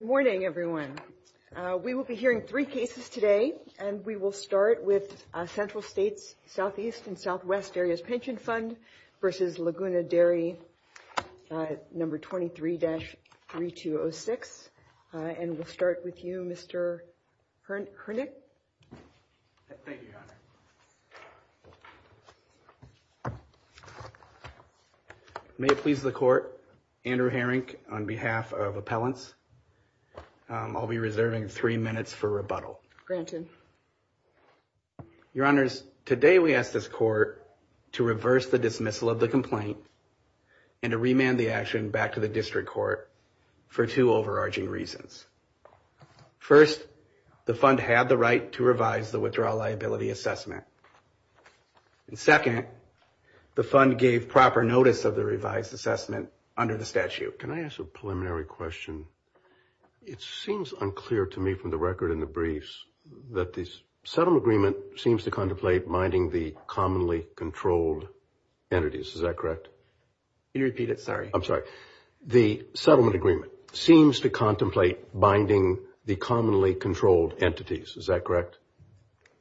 Morning, everyone. We will be hearing three cases today, and we will start with Central States Southeast and Southwest Areas Pension Fund v. Laguna Dairy No. 23-3206, and we'll start with you, Mr. Hernick. Thank you, Your Honor. May it please the Court, Andrew Hernick, on behalf of Appellants, I'll be reserving three minutes for rebuttal. Your Honors, today we ask this Court to reverse the dismissal of the complaint and to remand the action back to the District Court for two overarching reasons. First, the Fund had the right to revise the Withdrawal Liability Assessment, and second, the Fund gave proper notice of the revised assessment under the statute. Can I ask a preliminary question? It seems unclear to me from the record in the briefs that the settlement agreement seems to contemplate minding the commonly controlled entities. Is that correct? Can you repeat it? Sorry. I'm sorry. The settlement agreement seems to contemplate minding the commonly controlled entities. Is that correct?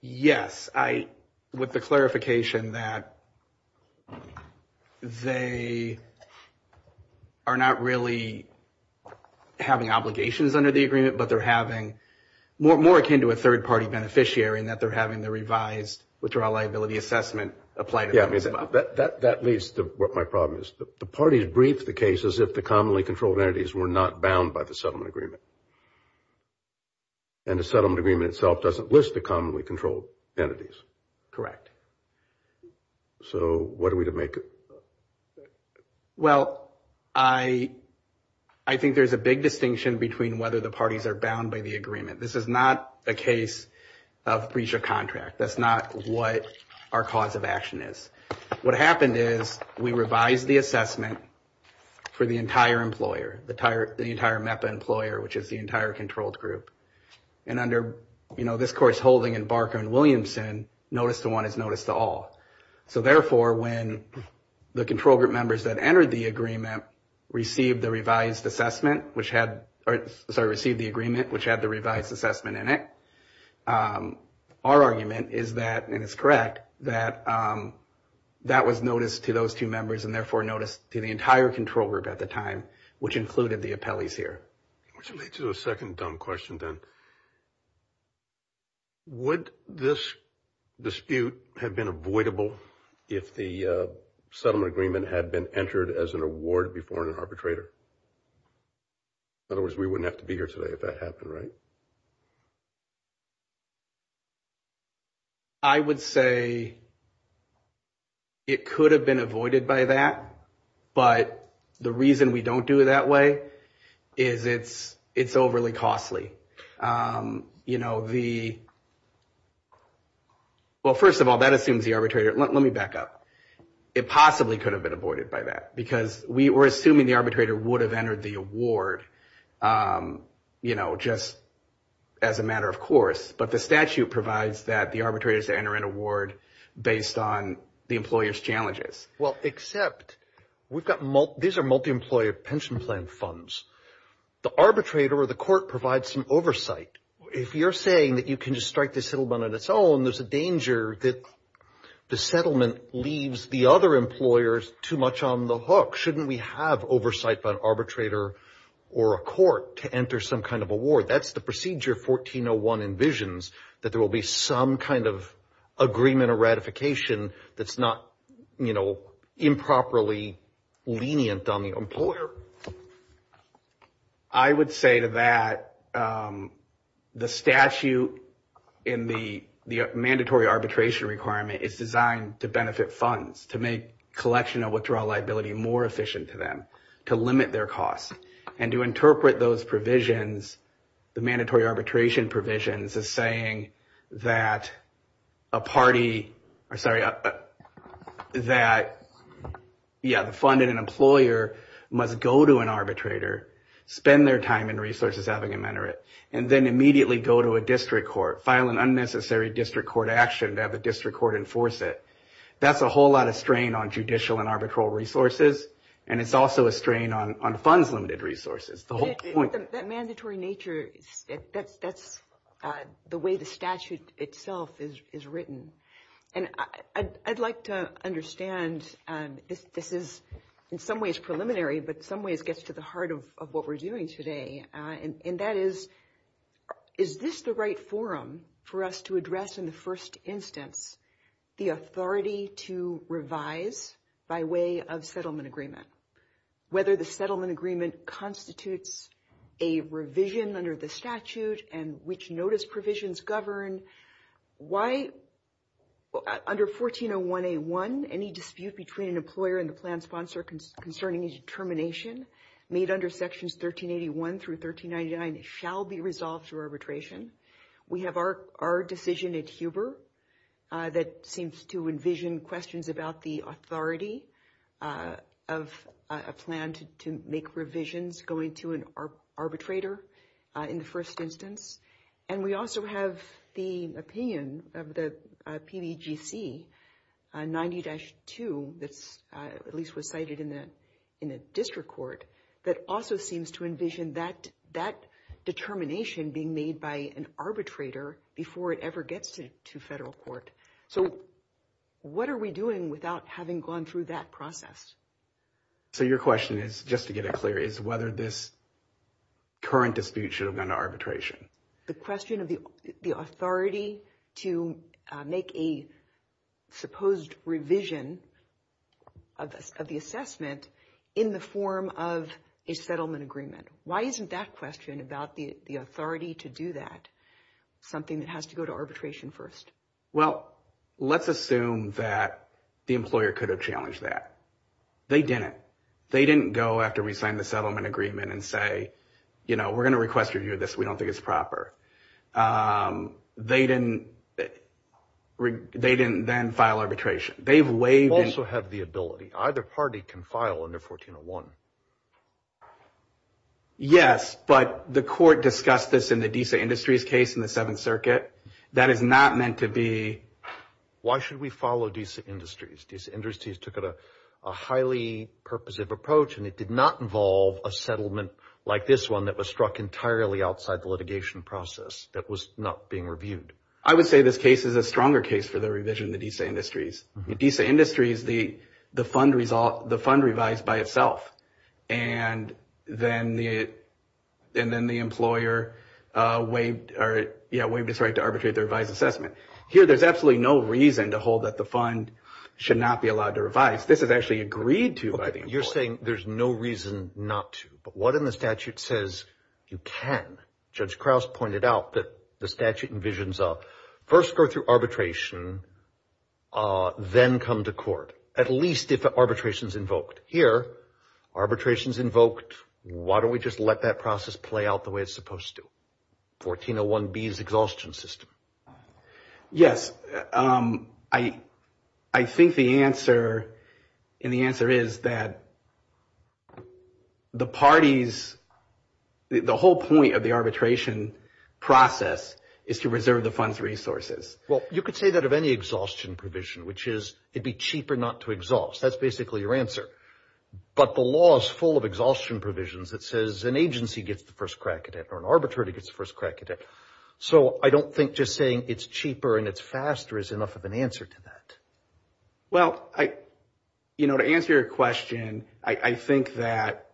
Yes. With the clarification that they are not really having obligations under the agreement, but they're having more akin to a third-party beneficiary in that they're having the revised Withdrawal Liability Assessment applied. That leads to what my problem is. The parties briefed the case as if the commonly controlled entities were not bound by the settlement agreement, and the settlement agreement itself doesn't list the commonly controlled entities. Correct. So what are we to make of that? Well, I think there's a big distinction between whether the parties are bound by the agreement. This is not a case of breach of contract. That's not what our cause of action is. What happened is we revised the assessment for the entire employer, the entire MEPA employer, which is the entire controlled group. And under this Court's holding in Barker and Williamson, notice to one is notice to all. So therefore, when the control group members that entered the agreement received the revised assessment, which had the revised assessment in it, our argument is that, and it's correct, that that was notice to those two members and therefore notice to the entire control group at the time, which included the appellees here. All right. Which leads to a second dumb question then. Would this dispute have been avoidable if the settlement agreement had been entered as an award before an arbitrator? In other words, we wouldn't have to be here today if that happened, right? I would say it could have been avoided by that. But the reason we don't do it that way is it's overly costly. You know, the, well, first of all, that assumes the arbitrator, let me back up. It possibly could have been avoided by that because we were assuming the arbitrator would have entered the award, you know, just as a matter of course. But the statute provides that the arbitrators enter an award based on the employer's challenges. Well, except we've got, these are multi-employer pension plan funds. The arbitrator or the court provides some oversight. If you're saying that you can just strike the settlement on its own, there's a danger that the settlement leaves the other employers too much on the hook. Shouldn't we have oversight by an arbitrator or a court to enter some kind of award? That's the procedure 1401 envisions, that there will be some kind of agreement or ratification that's not, you know, improperly lenient on the employer. I would say to that the statute in the mandatory arbitration requirement is designed to benefit funds, to make collection of withdrawal liability more efficient to them, to limit their costs. And to interpret those provisions, the mandatory arbitration provisions, as saying that a party, or sorry, that, yeah, the fund and an employer must go to an arbitrator, spend their time and resources having them enter it, and then immediately go to a district court, file an unnecessary district court action to have the district court enforce it. That's a whole lot of strain on judicial and arbitral resources, and it's also a strain on funds limited resources. That mandatory nature, that's the way the statute itself is written. And I'd like to understand, this is in some ways preliminary, but in some ways gets to the heart of what we're doing today, and that is, is this the right forum for us to address in the first instance, the authority to revise by way of settlement agreement? Whether the settlement agreement constitutes a revision under the statute, and which notice provisions govern, why, under 1401A1, any dispute between an employer and the plan sponsor concerning a determination made under sections 1381 through 1399 shall be resolved through arbitration. We have our decision at Huber that seems to envision questions about the authority of a plan to make revisions going to an arbitrator in the first instance. And we also have the opinion of the PDGC 90-2, that's at least was cited in the district court, that also seems to envision that determination being made by an arbitrator before it ever gets to federal court. So what are we doing without having gone through that process? So your question is, just to get it clear, is whether this current dispute should have gone to arbitration. The question of the authority to make a supposed revision of the assessment in the form of a settlement agreement. Why isn't that question about the authority to do that something that has to go to arbitration first? Well, let's assume that the employer could have challenged that. They didn't. They didn't go after we signed the settlement agreement and say, you know, we're going to request review of this. We don't think it's proper. They didn't. They didn't then file arbitration. They've waived. They also have the ability. Either party can file under 1401. Yes, but the court discussed this in the DISA Industries case in the Seventh Circuit. That is not meant to be. Why should we follow DISA Industries? DISA Industries took a highly purposive approach, and it did not involve a settlement like this one that was struck entirely outside the litigation process that was not being reviewed. I would say this case is a stronger case for the revision of the DISA Industries. In DISA Industries, the fund revised by itself, and then the employer waived its right to arbitrate the revised assessment. Here, there's absolutely no reason to hold that the fund should not be allowed to revise. This is actually agreed to by the employer. You're saying there's no reason not to, but what in the statute says you can? Judge Krauss pointed out that the statute envisions first go through arbitration, then come to court, at least if arbitration is invoked. Here, arbitration is invoked. Why don't we just let that process play out the way it's supposed to? 1401B is the exhaustion system. Yes. I think the answer, and the answer is that the parties, the whole point of the arbitration process is to reserve the fund's resources. Well, you could say that of any exhaustion provision, which is it'd be cheaper not to exhaust. That's basically your answer. But the law is full of exhaustion provisions that says an agency gets the first crack at it, or an arbitrator gets the first crack at it. So I don't think just saying it's cheaper and it's faster is enough of an answer to that. Well, I, you know, to answer your question, I think that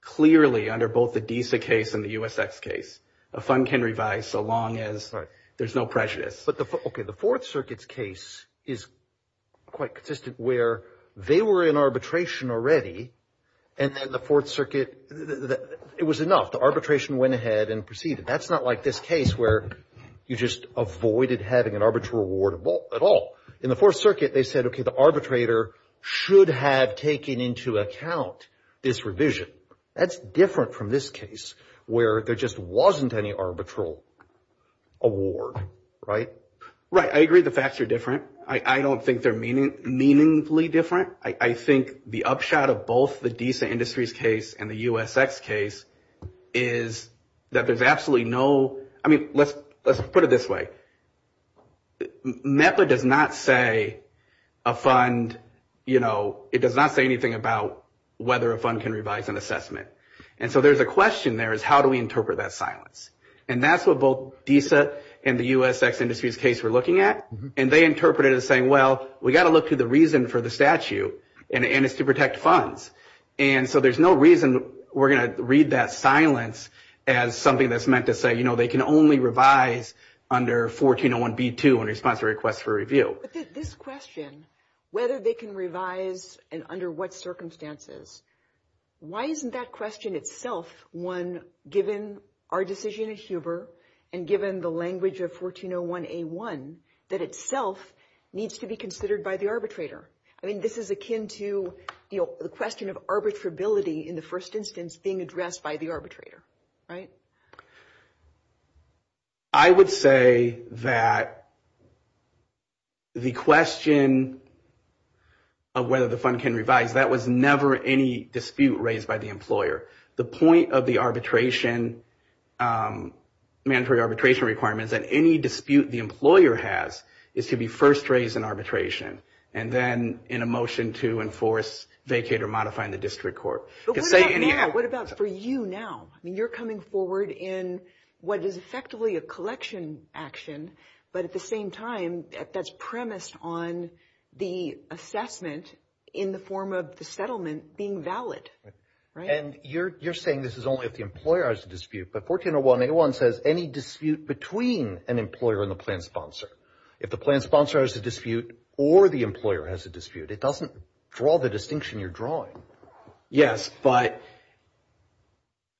clearly under both the DISA case and the USX case, a fund can revise so long as there's no prejudice. But the, okay, the Fourth Circuit's case is quite consistent where they were in arbitration already, and then the Fourth Circuit, it was enough. The arbitration went ahead and proceeded. That's not like this case where you just avoided having an arbitral award at all. In the Fourth Circuit, they said, okay, the arbitrator should have taken into account this revision. That's different from this case where there just wasn't any arbitral award, right? Right. I agree the facts are different. I don't think they're meaningfully different. I think the upshot of both the DISA Industries case and the USX case is that there's absolutely no, I mean, let's put it this way. NETLA does not say a fund, you know, it does not say anything about whether a fund can revise an assessment. And so there's a question there is how do we interpret that silence? And that's what both DISA and the USX Industries case we're looking at. And they interpreted it as saying, well, we got to look to the reason for the statute, and it's to protect funds. And so there's no reason we're going to read that silence as something that's meant to say, you know, they can only revise under 1401B2 in response to requests for review. But this question, whether they can revise and under what circumstances, why isn't that question itself one given our decision at Huber and given the language of 1401A1 that itself needs to be considered by the arbitrator? I mean, this is akin to the question of arbitrability in the first instance being addressed by the arbitrator, right? I would say that the question of whether the fund can revise, that was never any dispute raised by the employer. The point of the arbitration, mandatory arbitration requirements, that any dispute the employer has is to be first raised in arbitration. And then in a motion to enforce, vacate, or modify in the district court. But what about now? What about for you now? I mean, you're coming forward in what is effectively a collection action, but at the same time, that's premised on the assessment in the form of the settlement being valid, right? And you're saying this is only if the employer has a dispute, but 1401A1 says any dispute between an employer and the plan sponsor. If the plan sponsor has a dispute or the employer has a dispute, it doesn't draw the distinction you're drawing. Yes, but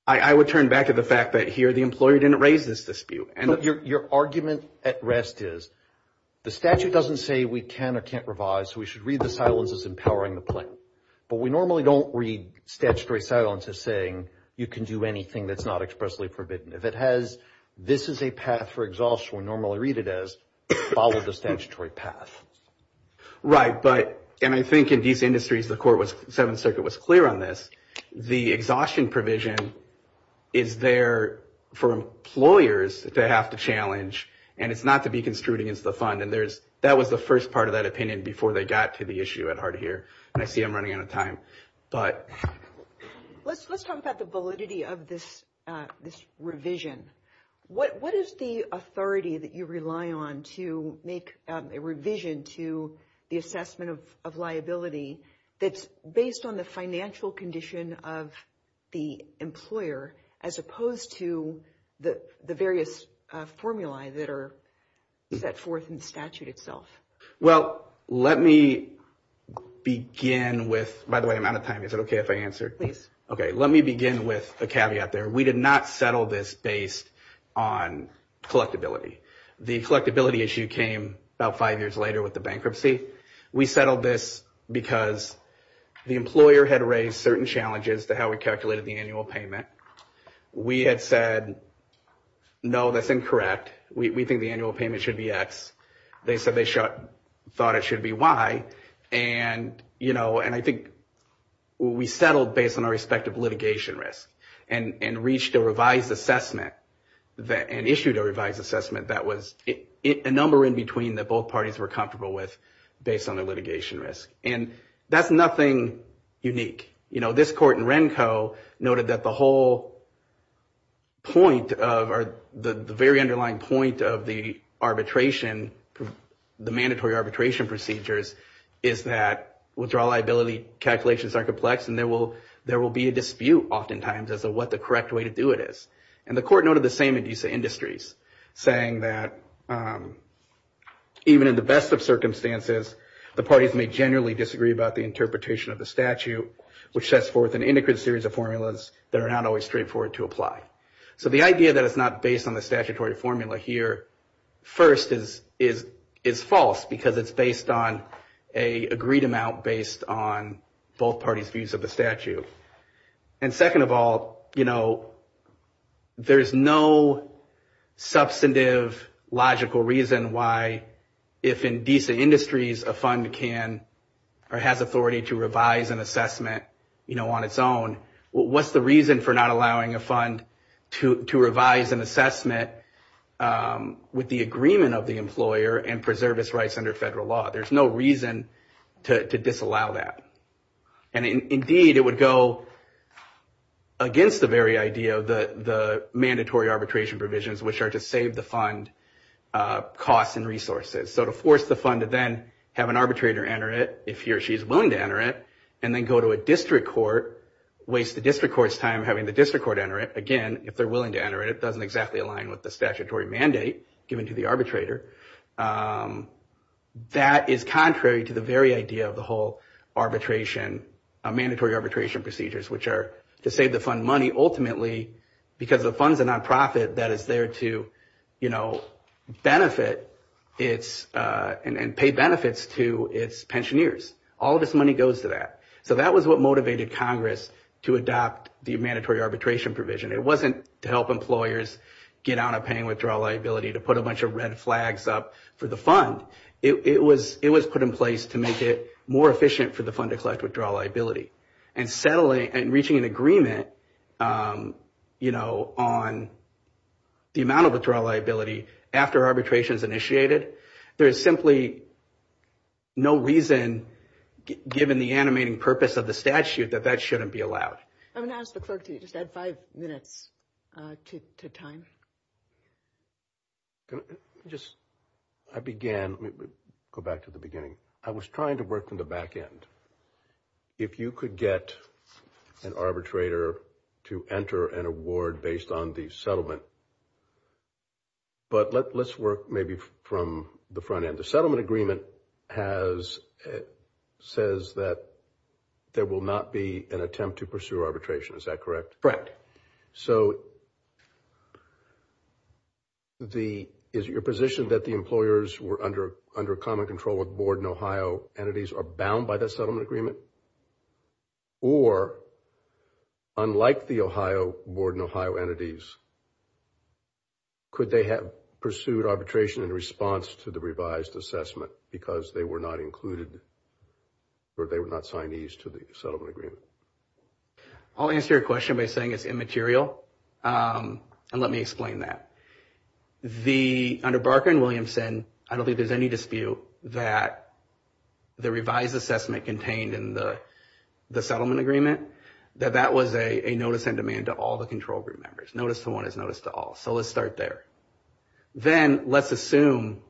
I would turn back to the fact that here the employer didn't raise this dispute. Your argument at rest is the statute doesn't say we can or can't revise. We should read the silence as empowering the plan, but we normally don't read statutory silence as saying you can do anything that's not expressly forbidden. If it has, this is a path for exhaustion, we normally read it as follow the statutory path. Right, but, and I think in these industries, the court was, Seventh Circuit was clear on this. The exhaustion provision is there for employers to have to challenge, and it's not to be construed against the fund. And there's, that was the first part of that opinion before they got to the issue at heart here. And I see I'm running out of time, but. Let's talk about the validity of this revision. What is the authority that you rely on to make a revision to the assessment of liability that's based on the financial condition of the employer as opposed to the various formulae that are set forth in the statute itself? Well, let me begin with, by the way, I'm out of time. Is it okay if I answer? Please. Okay, let me begin with a caveat there. We did not settle this based on collectability. The collectability issue came about five years later with the bankruptcy. We settled this because the employer had raised certain challenges to how we calculated the annual payment. We had said, no, that's incorrect. We think the annual payment should be X. They said they thought it should be Y. And, you know, and I think we settled based on our respective litigation risk and reached a revised assessment and issued a revised assessment that was a number in between that both parties were comfortable with based on their litigation risk. And that's nothing unique. You know, this court in Renko noted that the whole point of or the very underlying point of the arbitration, the mandatory arbitration procedures, is that withdrawal liability calculations are complex and there will be a dispute oftentimes as to what the correct way to do it is. And the court noted the same induces industries, saying that even in the best of circumstances, the parties may generally disagree about the interpretation of the statute, which sets forth an intricate series of formulas that are not always straightforward to apply. So the idea that it's not based on the statutory formula here, first, is false because it's based on an agreed amount based on both parties' views of the statute. And second of all, you know, there's no substantive logical reason why, if in decent industries, a fund can or has authority to revise an assessment, you know, on its own. What's the reason for not allowing a fund to revise an assessment with the agreement of the employer and preserve its rights under federal law? There's no reason to disallow that. And indeed, it would go against the very idea of the mandatory arbitration provisions, which are to save the fund costs and resources. So to force the fund to then have an arbitrator enter it, if he or she is willing to enter it, and then go to a district court, waste the district court's time having the district court enter it, again, if they're willing to enter it, it doesn't exactly align with the statutory mandate given to the arbitrator. That is contrary to the very idea of the whole arbitration, mandatory arbitration procedures, which are to save the fund money, ultimately, because the fund's a nonprofit that is there to, you know, benefit its and pay benefits to its pensioneers. All of its money goes to that. So that was what motivated Congress to adopt the mandatory arbitration provision. It wasn't to help employers get out of paying withdrawal liability, to put a bunch of red flags up for the fund. It was put in place to make it more efficient for the fund to collect withdrawal liability. And reaching an agreement, you know, on the amount of withdrawal liability after arbitration is initiated, there is simply no reason, given the animating purpose of the statute, that that shouldn't be allowed. I'm going to ask the clerk to just add five minutes to time. Just, I began, go back to the beginning. I was trying to work from the back end. If you could get an arbitrator to enter an award based on the settlement, but let's work maybe from the front end. The settlement agreement has, says that there will not be an attempt to pursue arbitration. Is that correct? So, the, is your position that the employers were under, under common control of board in Ohio entities are bound by the settlement agreement? Or, unlike the Ohio, board in Ohio entities, could they have pursued arbitration in response to the revised assessment because they were not included, or they would not sign these to the settlement agreement? I'll answer your question by saying it's immaterial. And let me explain that. The, under Barker and Williamson, I don't think there's any dispute that the revised assessment contained in the settlement agreement, that that was a notice in demand to all the control group members. Notice to one is notice to all. So, let's start there. Then, let's assume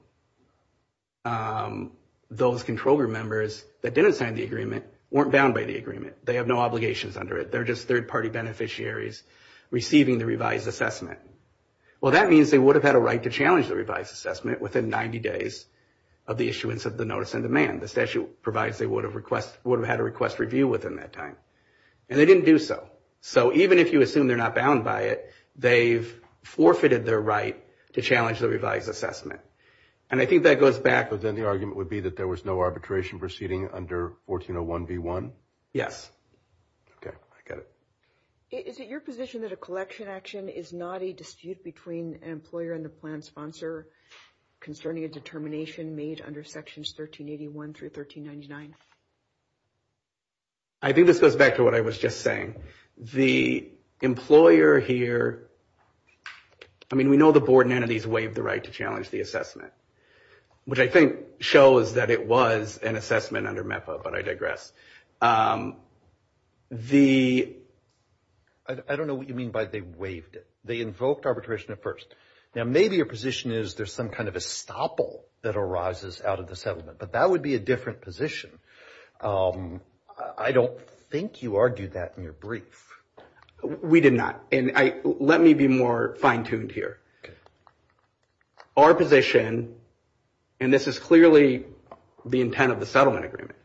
those control group members that didn't sign the agreement weren't bound by the agreement. They have no obligations under it. They're just third party beneficiaries receiving the revised assessment. Well, that means they would have had a right to challenge the revised assessment within 90 days of the issuance of the notice in demand. The statute provides they would have request, would have had a request review within that time. And they didn't do so. So, even if you assume they're not bound by it, they've forfeited their right to challenge the revised assessment. And I think that goes back. But then the argument would be that there was no arbitration proceeding under 1401B1? Yes. Okay, I get it. Is it your position that a collection action is not a dispute between an employer and the plan sponsor concerning a determination made under sections 1381 through 1399? I think this goes back to what I was just saying. The employer here, I mean, we know the board and entities waived the right to challenge the assessment, which I think shows that it was an assessment under MEPA, but I digress. The, I don't know what you mean by they waived it. They invoked arbitration at first. Now, maybe your position is there's some kind of estoppel that arises out of the settlement. But that would be a different position. I don't think you argued that in your brief. We did not. And I, let me be more fine-tuned here. Okay. Our position, and this is clearly the intent of the settlement agreement,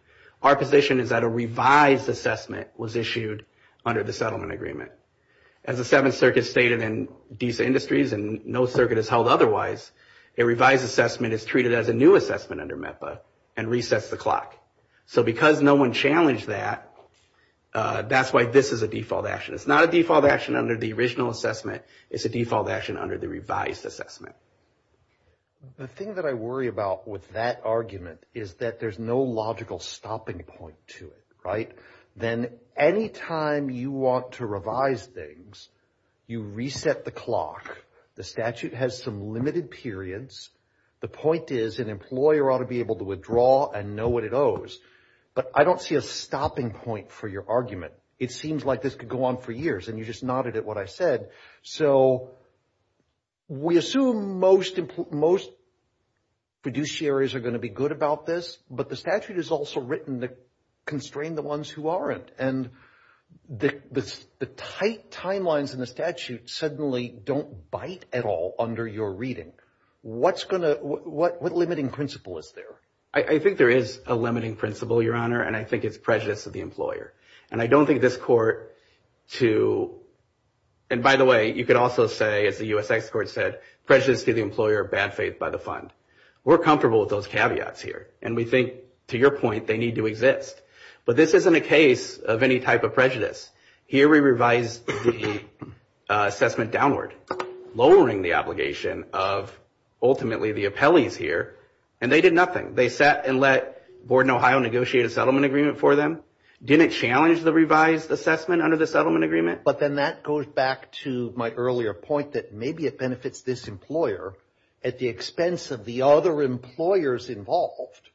our position is that a revised assessment was issued under the settlement agreement. As the Seventh Circuit stated in DISA Industries, and no circuit is held otherwise, a revised assessment is treated as a new assessment under MEPA and resets the clock. So because no one challenged that, that's why this is a default action. It's not a default action under the original assessment. It's a default action under the revised assessment. The thing that I worry about with that argument is that there's no logical stopping point to it, right? Then any time you want to revise things, you reset the clock. The statute has some limited periods. The point is an employer ought to be able to withdraw and know what it owes. But I don't see a stopping point for your argument. It seems like this could go on for years. And you just nodded at what I said. So we assume most fiduciaries are going to be good about this. But the statute is also written to constrain the ones who aren't. And the tight timelines in the statute suddenly don't bite at all under your reading. What limiting principle is there? I think there is a limiting principle, Your Honor. And I think it's prejudice of the employer. And I don't think this court to... And by the way, you could also say, as the U.S. Executive Court said, prejudice to the employer, bad faith by the fund. We're comfortable with those caveats here. And we think, to your point, they need to exist. But this isn't a case of any type of prejudice. Here we revised the assessment downward, lowering the obligation of ultimately the appellees here. And they did nothing. They sat and let Board in Ohio negotiate a settlement agreement for them. Didn't challenge the revised assessment under the settlement agreement. But then that goes back to my earlier point that maybe it benefits this employer at the expense of the other employers involved.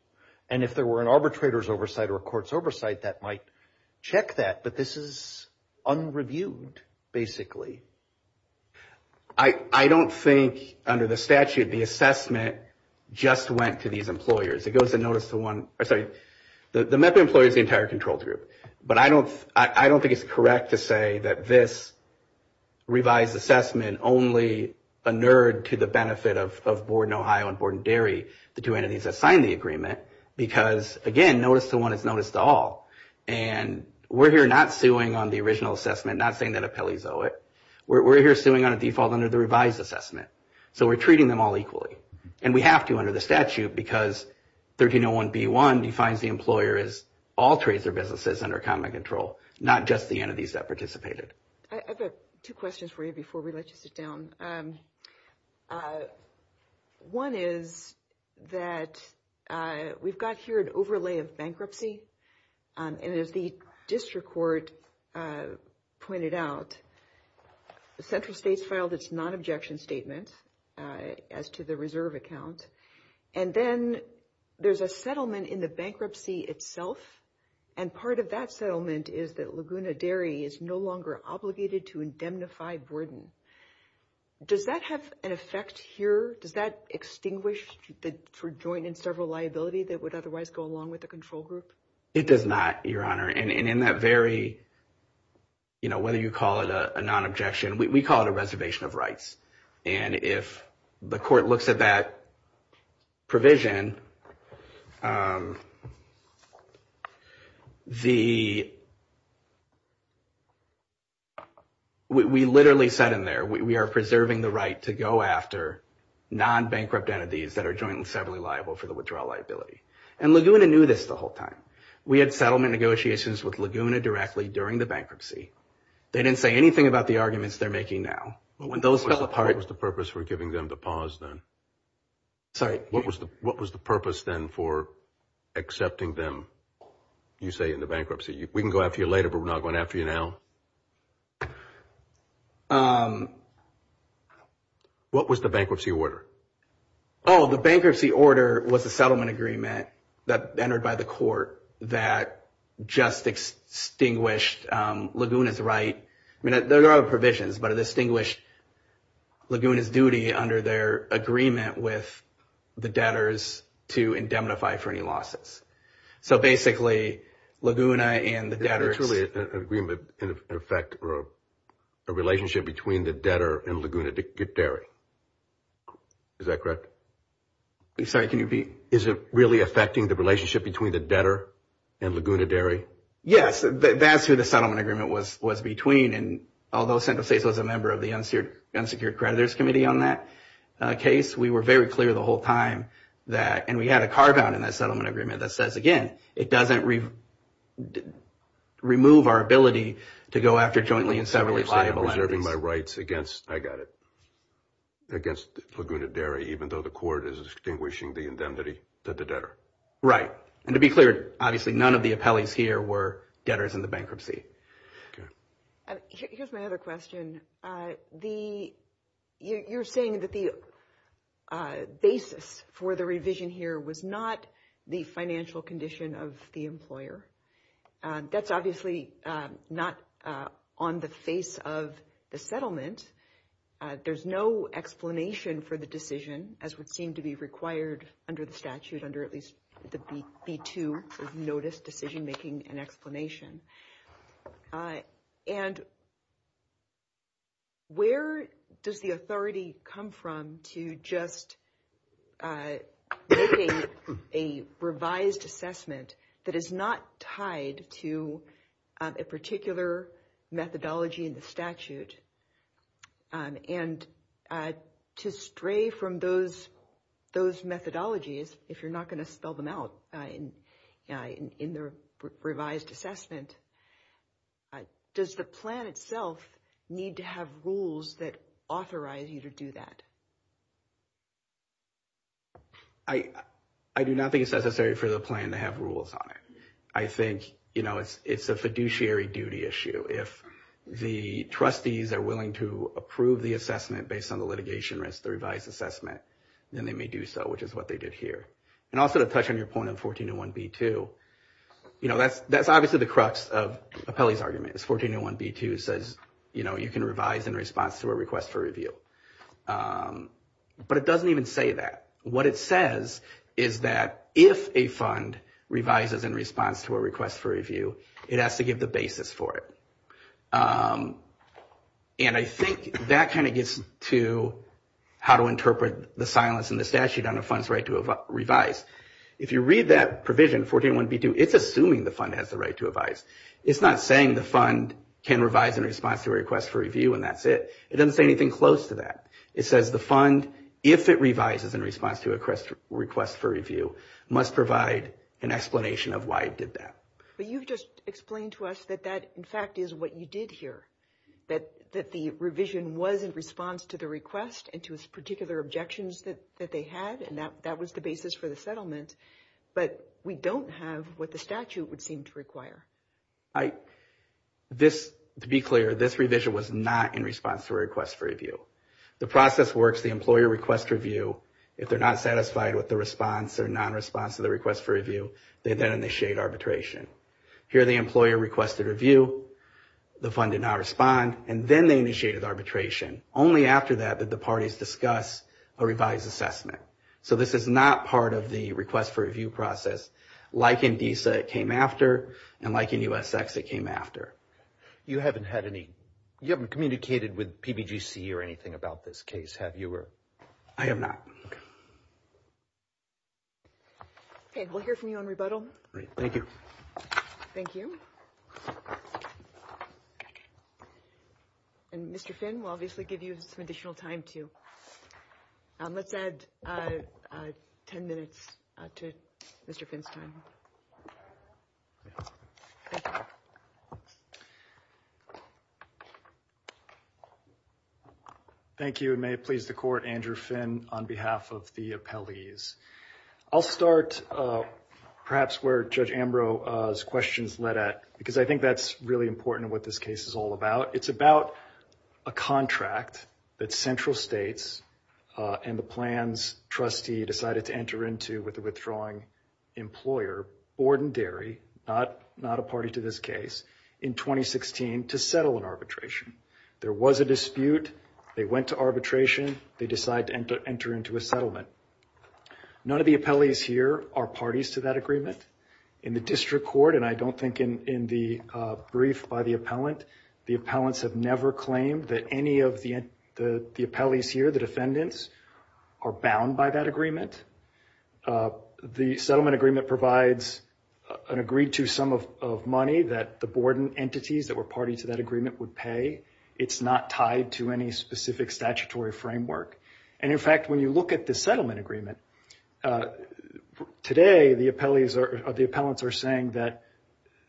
And if there were an arbitrator's oversight or a court's oversight, that might check that. But this is unreviewed, basically. I don't think, under the statute, the assessment just went to these employers. It goes to notice the one... I'm sorry, the MEP employers, the entire control group. But I don't think it's correct to say that this revised assessment only inured to the benefit of Board in Ohio and Board in Derry, the two entities that signed the agreement. Because, again, notice to one is notice to all. And we're here not suing on the original assessment, not saying that appellees owe it. We're here suing on a default under the revised assessment. So we're treating them all equally. And we have to under the statute because 1301B1 defines the employer as all trades or businesses under common control, not just the entities that participated. I've got two questions for you before we let you sit down. One is that we've got here an overlay of bankruptcy. And as the district court pointed out, the central states filed its non-objection statement as to the reserve account. And then there's a settlement in the bankruptcy itself. And part of that settlement is that Laguna Derry is no longer obligated to indemnify burden. Does that have an effect here? Does that extinguish the joint and several liability that would otherwise go along with the control group? It does not, Your Honor. And in that very, you know, whether you call it a non-objection, we call it a reservation of rights. And if the court looks at that provision, we literally said in there, we are preserving the right to go after non-bankrupt entities that are jointly and severally liable for the withdrawal liability. And Laguna knew this the whole time. We had settlement negotiations with Laguna directly during the bankruptcy. They didn't say anything about the arguments they're making now. When those fell apart. What was the purpose for giving them the pause then? Sorry. What was the purpose for giving them the pause? What was the purpose then for accepting them, you say, in the bankruptcy? We can go after you later, but we're not going after you now. What was the bankruptcy order? Oh, the bankruptcy order was a settlement agreement that entered by the court that just extinguished Laguna's right. I mean, there are other provisions, but it extinguished Laguna's duty under their agreement with the debtors to indemnify for any losses. So basically, Laguna and the debtors... It's really an agreement in effect, or a relationship between the debtor and Laguna Derry. Is that correct? I'm sorry, can you repeat? Is it really affecting the relationship between the debtor and Laguna Derry? Yes, that's who the settlement agreement was between. And although Central States was a member of the unsecured creditors committee on that case, we were very clear the whole time that... And we had a carve-out in that settlement agreement that says, again, it doesn't remove our ability to go after jointly and severally liable entities. So you're saying I'm preserving my rights against... I got it. Against Laguna Derry, even though the court is extinguishing the indemnity to the debtor. Right. And to be clear, obviously, none of the appellees here were debtors in the bankruptcy. Okay. Here's my other question. The... You're saying that the basis for the revision here was not the financial condition of the employer. That's obviously not on the face of the settlement. There's no explanation for the decision, as would seem to be required under the statute, under at least the B-2, notice decision-making and explanation. And where does the authority come from to just making a revised assessment that is not tied to a particular methodology in the statute and to stray from those methodologies, if you're not going to spell them out in the revised assessment? Does the plan itself need to have rules that authorize you to do that? I do not think it's necessary for the plan to have rules on it. I think it's a fiduciary duty issue. If the trustees are willing to approve the assessment based on the litigation risk, the revised assessment, then they may do so, which is what they did here. And also to touch on your point on 1401B-2, that's obviously the crux of Apelli's argument, is 1401B-2 says you can revise in response to a request for review. But it doesn't even say that. What it says is that if a fund revises in response to a request for review, it has to give the basis for it. And I think that kind of gets to how to interpret the silence in the statute on a fund's right to revise. If you read that provision, 1401B-2, it's assuming the fund has the right to revise. It's not saying the fund can revise in response to a request for review and that's it. It doesn't say anything close to that. It says the fund, if it revises in response to a request for review, must provide an explanation of why it did that. But you've just explained to us that that in fact is what you did here, that the revision was in response to the request and to its particular objections that they had and that was the basis for the settlement. But we don't have what the statute would seem to require. To be clear, this revision was not in response to a request for review. The process works, the employer requests review. If they're not satisfied with the response or non-response to the request for review, they then initiate arbitration. Here the employer requested review, the fund did not respond, and then they initiated arbitration. Only after that did the parties discuss a revised assessment. So this is not part of the request for review process, like in DISA it came after and like in USX it came after. You haven't had any, you haven't communicated with PBGC or anything about this case, have you? I have not. Okay. Okay, we'll hear from you on rebuttal. Great, thank you. Thank you. And Mr. Finn, I'd like to give you some additional time, too. Let's add 10 minutes to Mr. Finn's time. Thank you. Thank you, and may it please the Court, Andrew Finn on behalf of the appellees. I'll start perhaps where Judge Ambrose's questions led at, because I think that's really important in what this case is all about. It's about a contract that central states and the plans trustee decided to enter into with a withdrawing employer, ordinary, not a party to this case, in 2016 to settle an arbitration. There was a dispute. They went to arbitration. They decided to enter into a settlement. None of the appellees here are parties to that agreement. In the district court, and I don't think in the brief by the appellant, the appellants have never claimed that any of the appellees here, the defendants, are bound by that agreement. The settlement agreement provides an agreed-to sum of money that the board and entities that were party to that agreement would pay. It's not tied to any specific statutory framework. And in fact, when you look at the settlement agreement, today the appellants are saying that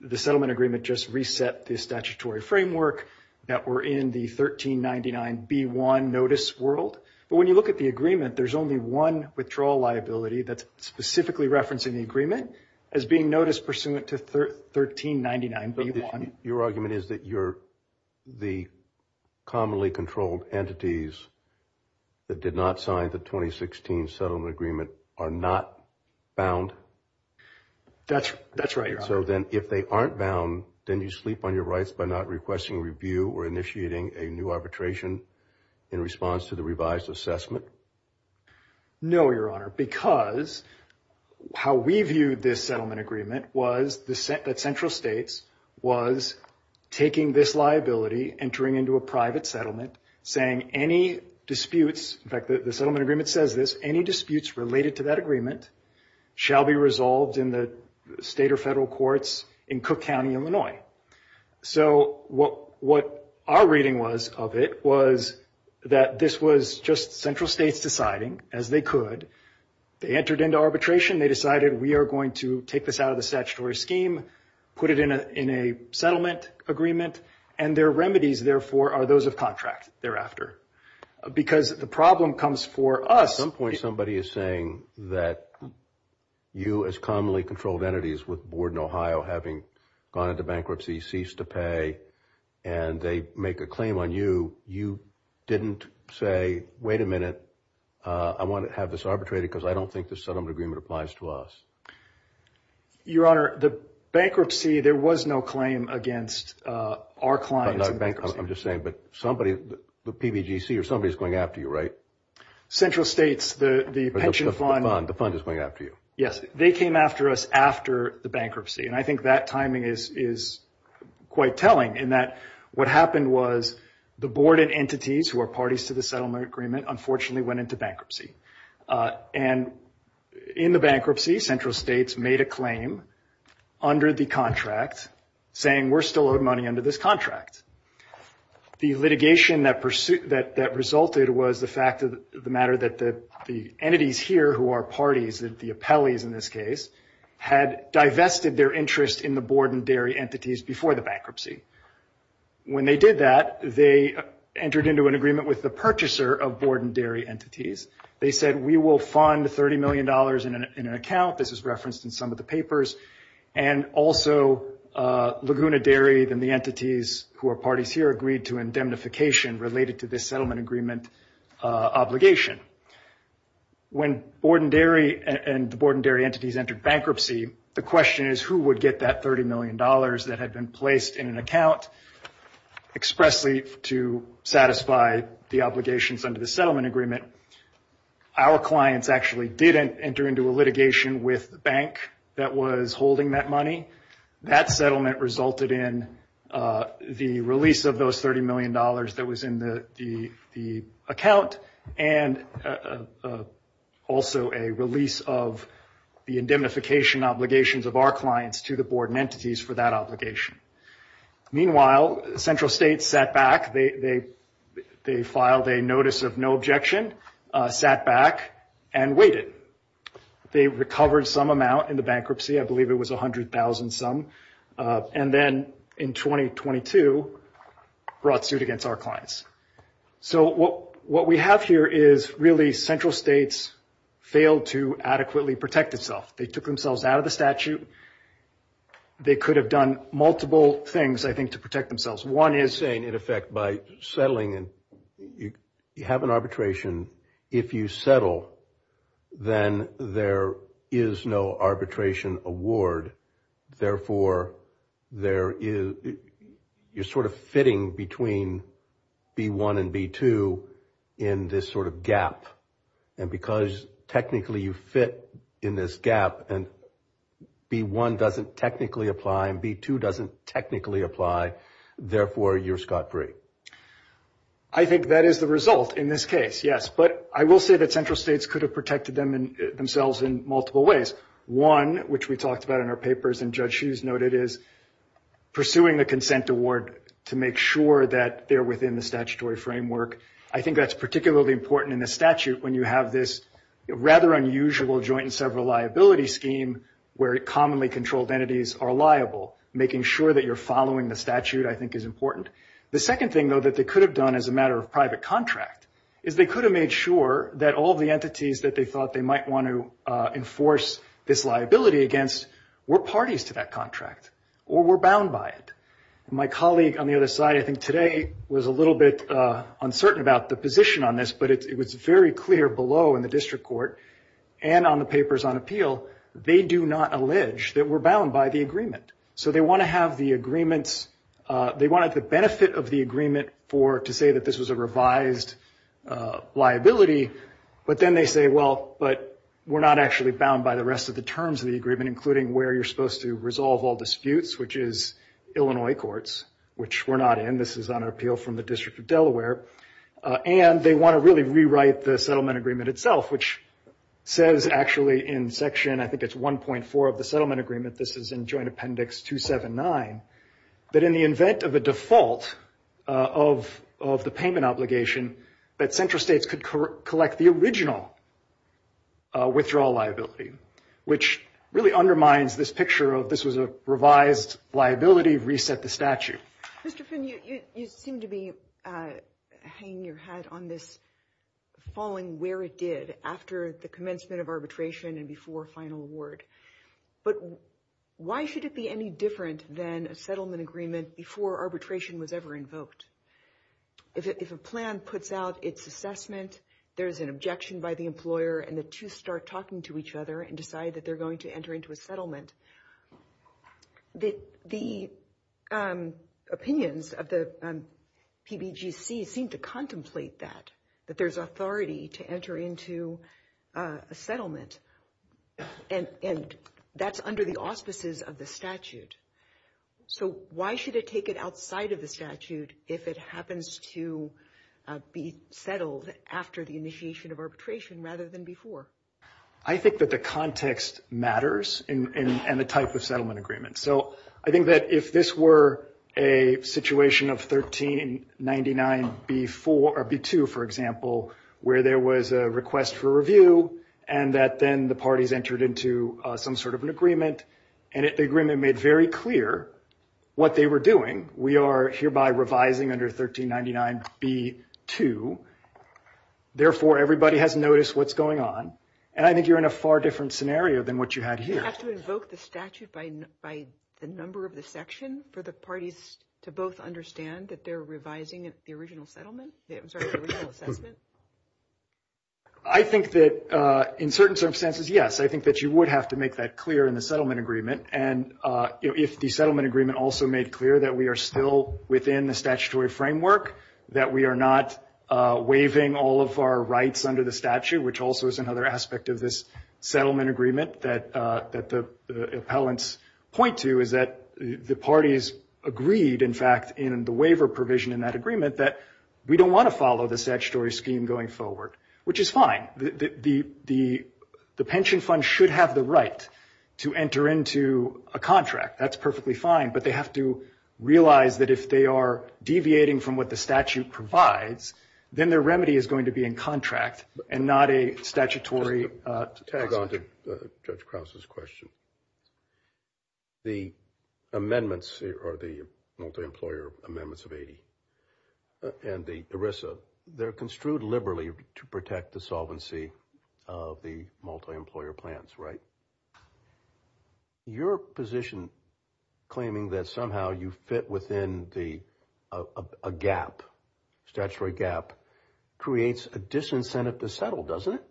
the settlement agreement just reset the statutory framework that were in the 1399B1 notice world. But when you look at the agreement, there's only one withdrawal liability that's specifically referencing the agreement as being notice pursuant to 1399B1. Your argument is that you're the commonly controlled entities that did not sign the 2016 settlement agreement are not bound? That's right, Your Honor. So then if they aren't bound, then you sleep on your rights that we're initiating a new arbitration in response to the revised assessment? No, Your Honor, because how we viewed this settlement agreement was that central states was taking this liability, entering into a private settlement, saying any disputes, in fact, the settlement agreement says this, any disputes related to that agreement shall be resolved in the state or federal courts in Cook County, Illinois. So what our reading was of it was that this was just central states deciding as they could. They entered into arbitration. They decided we are going to take this out of the statutory scheme, put it in a settlement agreement, and their remedies, therefore, are those of contract thereafter. Because the problem comes for us. At some point, somebody is saying that you as commonly controlled entities with Borden, Ohio, having gone into bankruptcy, ceased to pay, and they make a claim on you. You didn't say, wait a minute, I want to have this arbitrated because I don't think this settlement agreement applies to us. Your Honor, the bankruptcy, there was no claim against our clients. I'm just saying, but somebody, the PBGC or somebody is going after you, right? Central states, the pension fund. The fund is going after you. I think that timing is quite telling in that what happened was the Borden entities, who are parties to the settlement agreement, unfortunately went into bankruptcy. In the bankruptcy, central states made a claim under the contract saying we're still owed money under this contract. The litigation that resulted was the fact of the matter that the entities here who are parties, the appellees in this case, had divested their interest in the Borden Dairy entities before the bankruptcy. When they did that, they entered into an agreement with the purchaser of Borden Dairy entities. They said we will fund $30 million in an account. This is referenced in some of the papers and also Laguna Dairy and the entities who are parties here agreed to indemnification related to this settlement agreement obligation. When the Borden Dairy entities entered bankruptcy, the question is who would get that $30 million that had been placed in an account expressly to satisfy the obligations under the settlement agreement. Our clients actually didn't enter into a litigation with the bank that was holding that money. That settlement resulted in the release of those $30 million that was in the account because of the indemnification obligations of our clients to the Borden entities for that obligation. Meanwhile, central states sat back. They filed a notice of no objection, sat back and waited. They recovered some amount in the bankruptcy. I believe it was $100,000 some and then in 2022 brought suit against our clients. What we have here is really central states failed to adequately protect itself. They took themselves out of the statute. They could have done multiple things, I think, to protect themselves. One is saying, in effect, by settling, you have an arbitration. If you settle, then there is no arbitration award. Therefore, you're sort of fitting between B1 and B2 in this sort of gap. And because technically you fit in this gap and B1 doesn't technically apply and B2 doesn't technically apply, therefore, you're scot-free. I think that is the result in this case, yes. But I will say that central states could have protected themselves in multiple ways. One, which we talked about in our papers and Judge Hughes noted, is pursuing the consent award to make sure that they're within the statutory framework. You can't pursue the statute when you have this rather unusual joint and several liability scheme where commonly controlled entities are liable. Making sure that you're following the statute, I think, is important. The second thing, though, that they could have done as a matter of private contract is they could have made sure that all the entities that they thought they might want to enforce this liability against were parties to that contract or were bound by it. My colleague on the other side, I think today was a little bit uncertain about the position on this, but it was very clear below in the district court and on the papers on appeal, they do not allege that we're bound by the agreement. So they want to have the agreements, they wanted the benefit of the agreement to say that this was a revised liability, but then they say, well, but we're not actually bound by the rest of the terms of the agreement, including where you're supposed to resolve all disputes, which is Illinois courts, which we're not in. This is on appeal from the District of Delaware. And they want to really rewrite the settlement agreement itself, which says actually in section, I think it's 1.4 of the settlement agreement, this is in Joint Appendix 279, that in the event of a default of the payment obligation, that central states could collect the original withdrawal liability, which really undermines this picture of this was a revised liability, reset the statute. Mr. Finn, you seem to be hanging your hat on this falling where it did after the commencement of arbitration and before final award. But why should it be any different than a settlement agreement before arbitration was ever invoked? If a plan puts out its assessment, there's an objection by the employer and the two start talking to each other and decide that they're going to enter into a settlement. The opinions of the PBGC seem to contemplate that, that there's authority to enter into a settlement. And that's under the auspices of the statute. So why should it take it outside of the statute if it happens to be settled after the initiation of arbitration rather than before? The context matters and the type of settlement agreement. So I think that if this were a situation of 1399B2, for example, where there was a request for review and that then the parties entered into some sort of an agreement and the agreement made very clear what they were doing. We are hereby revising under 1399B2. Therefore, everybody has noticed what's going on. This is a different scenario than what you had here. Do you have to invoke the statute by the number of the section for the parties to both understand that they're revising the original settlement? I'm sorry, the original assessment? I think that in certain circumstances, yes. I think that you would have to make that clear in the settlement agreement. And if the settlement agreement also made clear that we are still within the statutory framework, that we are not waiving all of our rights under the statute, which also is another aspect of this settlement agreement that the appellants point to, is that the parties agreed, in fact, in the waiver provision in that agreement that we don't want to follow the statutory scheme going forward, which is fine. The pension fund should have the right to enter into a contract. That's perfectly fine, but they have to realize that if they are deviating from what the statute provides, then their remedy is going to be in contract and not a statutory... Just to tag on to Judge Krause's question, the amendments, or the multi-employer amendments of 80, and the ERISA, they're construed liberally to protect the solvency of the multi-employer plans, right? Your position claiming that somehow you fit within a statutory gap creates a disincentive to settle, doesn't it?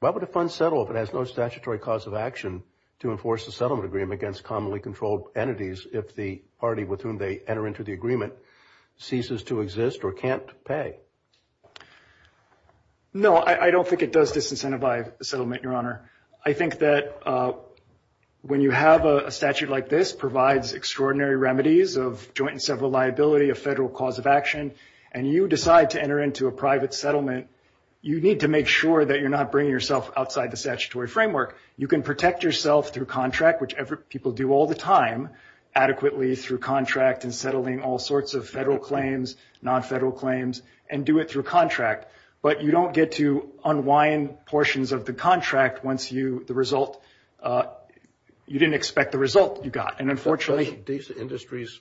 Why would a fund settle if it has no statutory cause of action to enforce a settlement agreement against commonly controlled entities if the party with whom they enter into the agreement ceases to exist or can't pay? No, I don't think it does disincentive by settlement, Your Honor. I think that when you have a statute like this that provides extraordinary remedies of joint and several liability, a federal cause of action, and you decide to enter into a private settlement, you need to make sure that you're not bringing yourself outside the statutory framework. You can protect yourself through contract, which people do all the time, adequately through contract and settling all sorts of federal claims, non-federal claims, and do it through contract, but you don't get to unwind portions of the contract once you, the result, you didn't expect the result you got, and unfortunately... Doesn't DISA Industries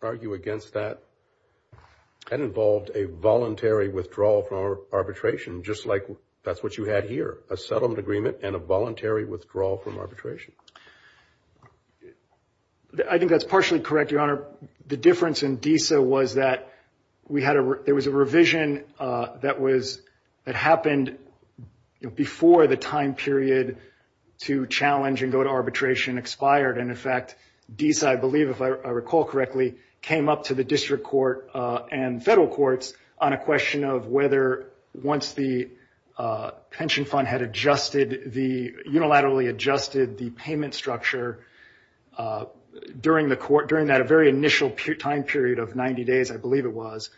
argue against that? That involved a voluntary withdrawal from arbitration, just like that's what you had here, a settlement agreement and a voluntary withdrawal from arbitration. I think that's partially correct, Your Honor. The difference in DISA was that we had a, there was a revision that was, that happened before the time period to challenge and go to arbitration expired, and in fact, DISA, I believe, if I recall correctly, came up to the district court and federal courts on a question of whether, once the pension fund had adjusted the, unilaterally adjusted the payment structure during the court, during that very initial time period of 90 days, I believe it was,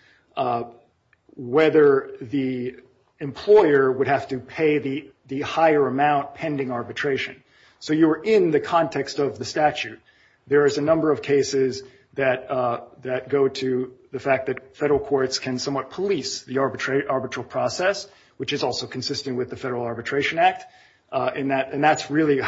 whether the employer would have to pay the higher amount pending arbitration. So you were in the context of the statute. There is a number of cases that go to the fact that federal courts can somewhat police the arbitral process, which is also consistent with the Federal Arbitration Act, and that's really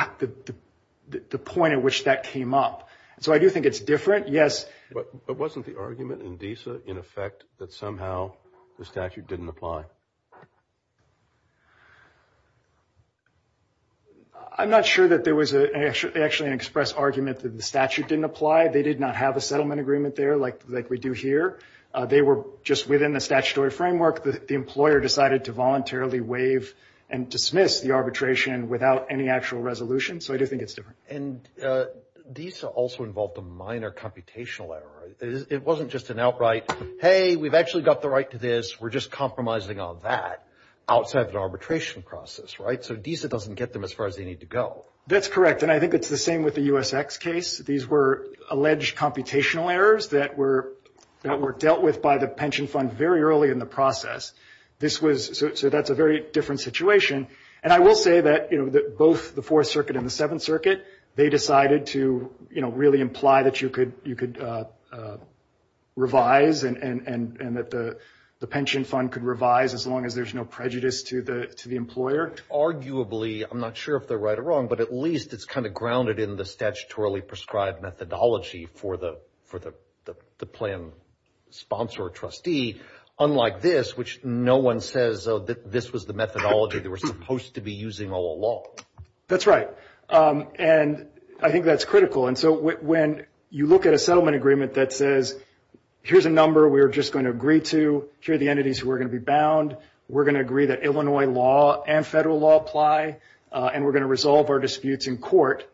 the point at which that came up. So I do think it's different. Yes. But wasn't the argument in DISA, in effect, that somehow the statute didn't apply? I'm not sure that there was actually an express argument that the statute didn't apply. They did not have a settlement agreement there like we do here. They were just within the statutory framework. The employer decided to voluntarily waive and dismiss the arbitration without any actual resolution. So I do think it's different. And DISA also involved a minor computational error. It wasn't just an outright, hey, we've actually got the right to this, we're just compromising on that, outside of the arbitration process, right? So DISA doesn't get them as far as they need to go. That's correct. And I think it's the same with the USX case. These were alleged computational errors that were dealt with by the pension fund very early in the process. So that's a very different situation. And I will say that both the Fourth Circuit and the Seventh Circuit, they decided to really imply that you could revise and that the pension fund could revise as long as there's no prejudice to the employer. And that worked, arguably, I'm not sure if they're right or wrong, but at least it's kind of grounded in the statutorily prescribed methodology for the plan sponsor or trustee, unlike this, which no one says this was the methodology they were supposed to be using all along. That's right. And I think that's critical. And so when you look at a settlement agreement that says, here's a number we're just going to agree to, here are the entities who are going to be bound, we're going to agree that Illinois law and federal law apply, and we're going to resolve our disputes in court,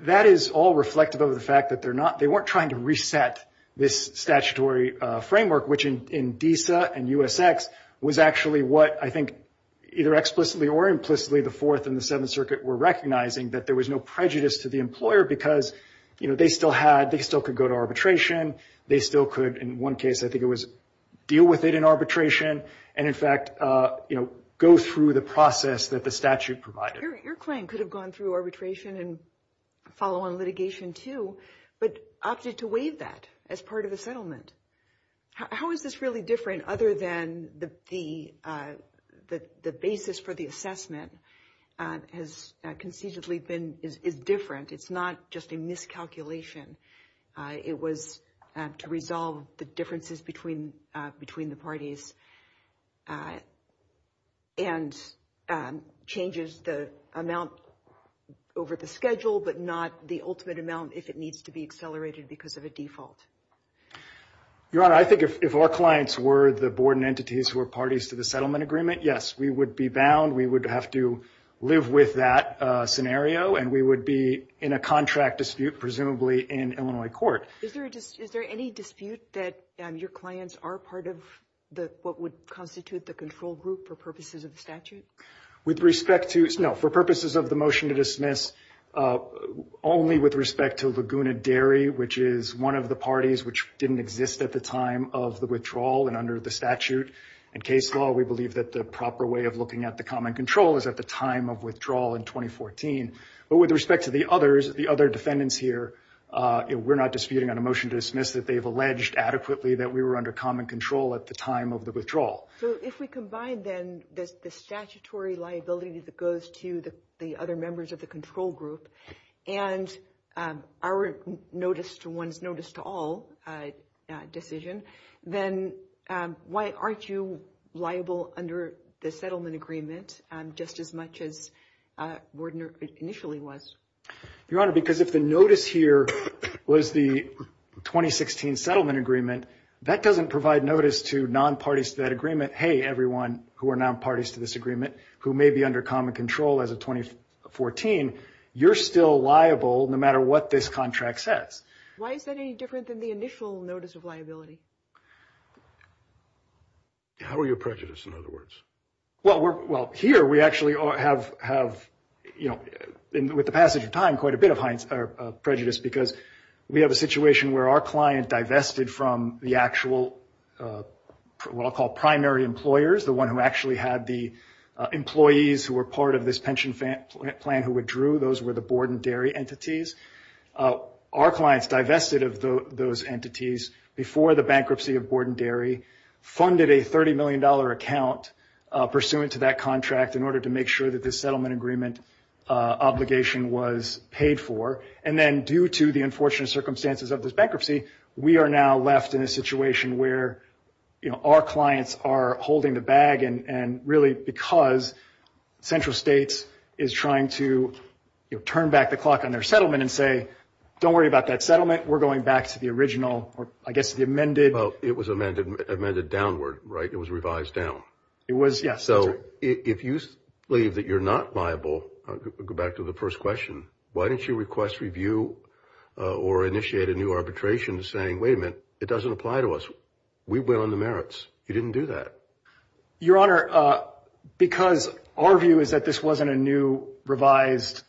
that is all reflective of the fact that they weren't trying to reset this statutory framework, which in DISA and USX was actually what I think either explicitly or implicitly, the Fourth and the Seventh Circuit were recognizing that there was no prejudice to the employer because they still had, they still could go to arbitration, they still could, in one case, I think it was deal with it in arbitration, and in fact, you know, go through the process that the statute provided. Your claim could have gone through arbitration and follow on litigation too, but opted to waive that as part of the settlement. How is this really different other than the basis for the assessment has concededly been, is different, it's not just a miscalculation, it was to resolve the differences between the parties and changes the amount over the schedule but not the ultimate amount if it needs to be accelerated because of a default. Your Honor, I think if our clients were the board and entities who were parties to the settlement agreement, yes, we would be bound, we would have to live with that scenario, and we would be in a contract dispute presumably in Illinois court. Is there any dispute that your clients are part of what would constitute the control group for purposes of the statute? With respect to, no, for purposes of the motion to dismiss, only with respect to Laguna Dairy, which is one of the parties which didn't exist at the time of the withdrawal and under the statute and case law, we believe that the proper way of looking at the common control is at the time of withdrawal in 2014. But with respect to the others, the other defendants here, we're not disputing on a motion to dismiss that they've alleged adequately that we were under common control at the time of the withdrawal. So if we combine then the statutory liability that goes to the other members of the control group and our notice to one's notice to all decision, then why aren't you liable under the settlement agreement just as much as Wardner initially was? Your Honor, because if the notice here was the 2016 settlement agreement, that doesn't provide notice to non-parties to that agreement, hey, everyone who are non-parties to this agreement who may be under common control as of 2014, you're still liable no matter what this contract says. Why is that any different than the initial notice of liability? How are you prejudiced in other words? Well, here we actually have, you know, with the passage of time, quite a bit of prejudice because we have a situation where our client divested from the actual what I'll call primary employers, the one who actually had the employees who were part of this pension plan who withdrew. Those were the Borden Dairy entities. Our clients divested of those entities before the bankruptcy of Borden Dairy, funded a $30 million account pursuant to that contract in order to make sure that this settlement agreement obligation was paid for and then due to the unfortunate circumstances of this bankruptcy, we are now left in a situation where our clients are holding the bag and really because central states is trying to turn back the clock on their settlement and say don't worry about that settlement, we're going back to the original or I guess the amended Well, it was amended downward, right? It was revised down. It was, yes. So, if you believe that you're not liable, go back to the first question. Why didn't you request review or initiate a new arbitration saying, wait a minute, it doesn't apply to us. We went on the merits. You didn't do that. Your Honor, because our view is that this wasn't a new revised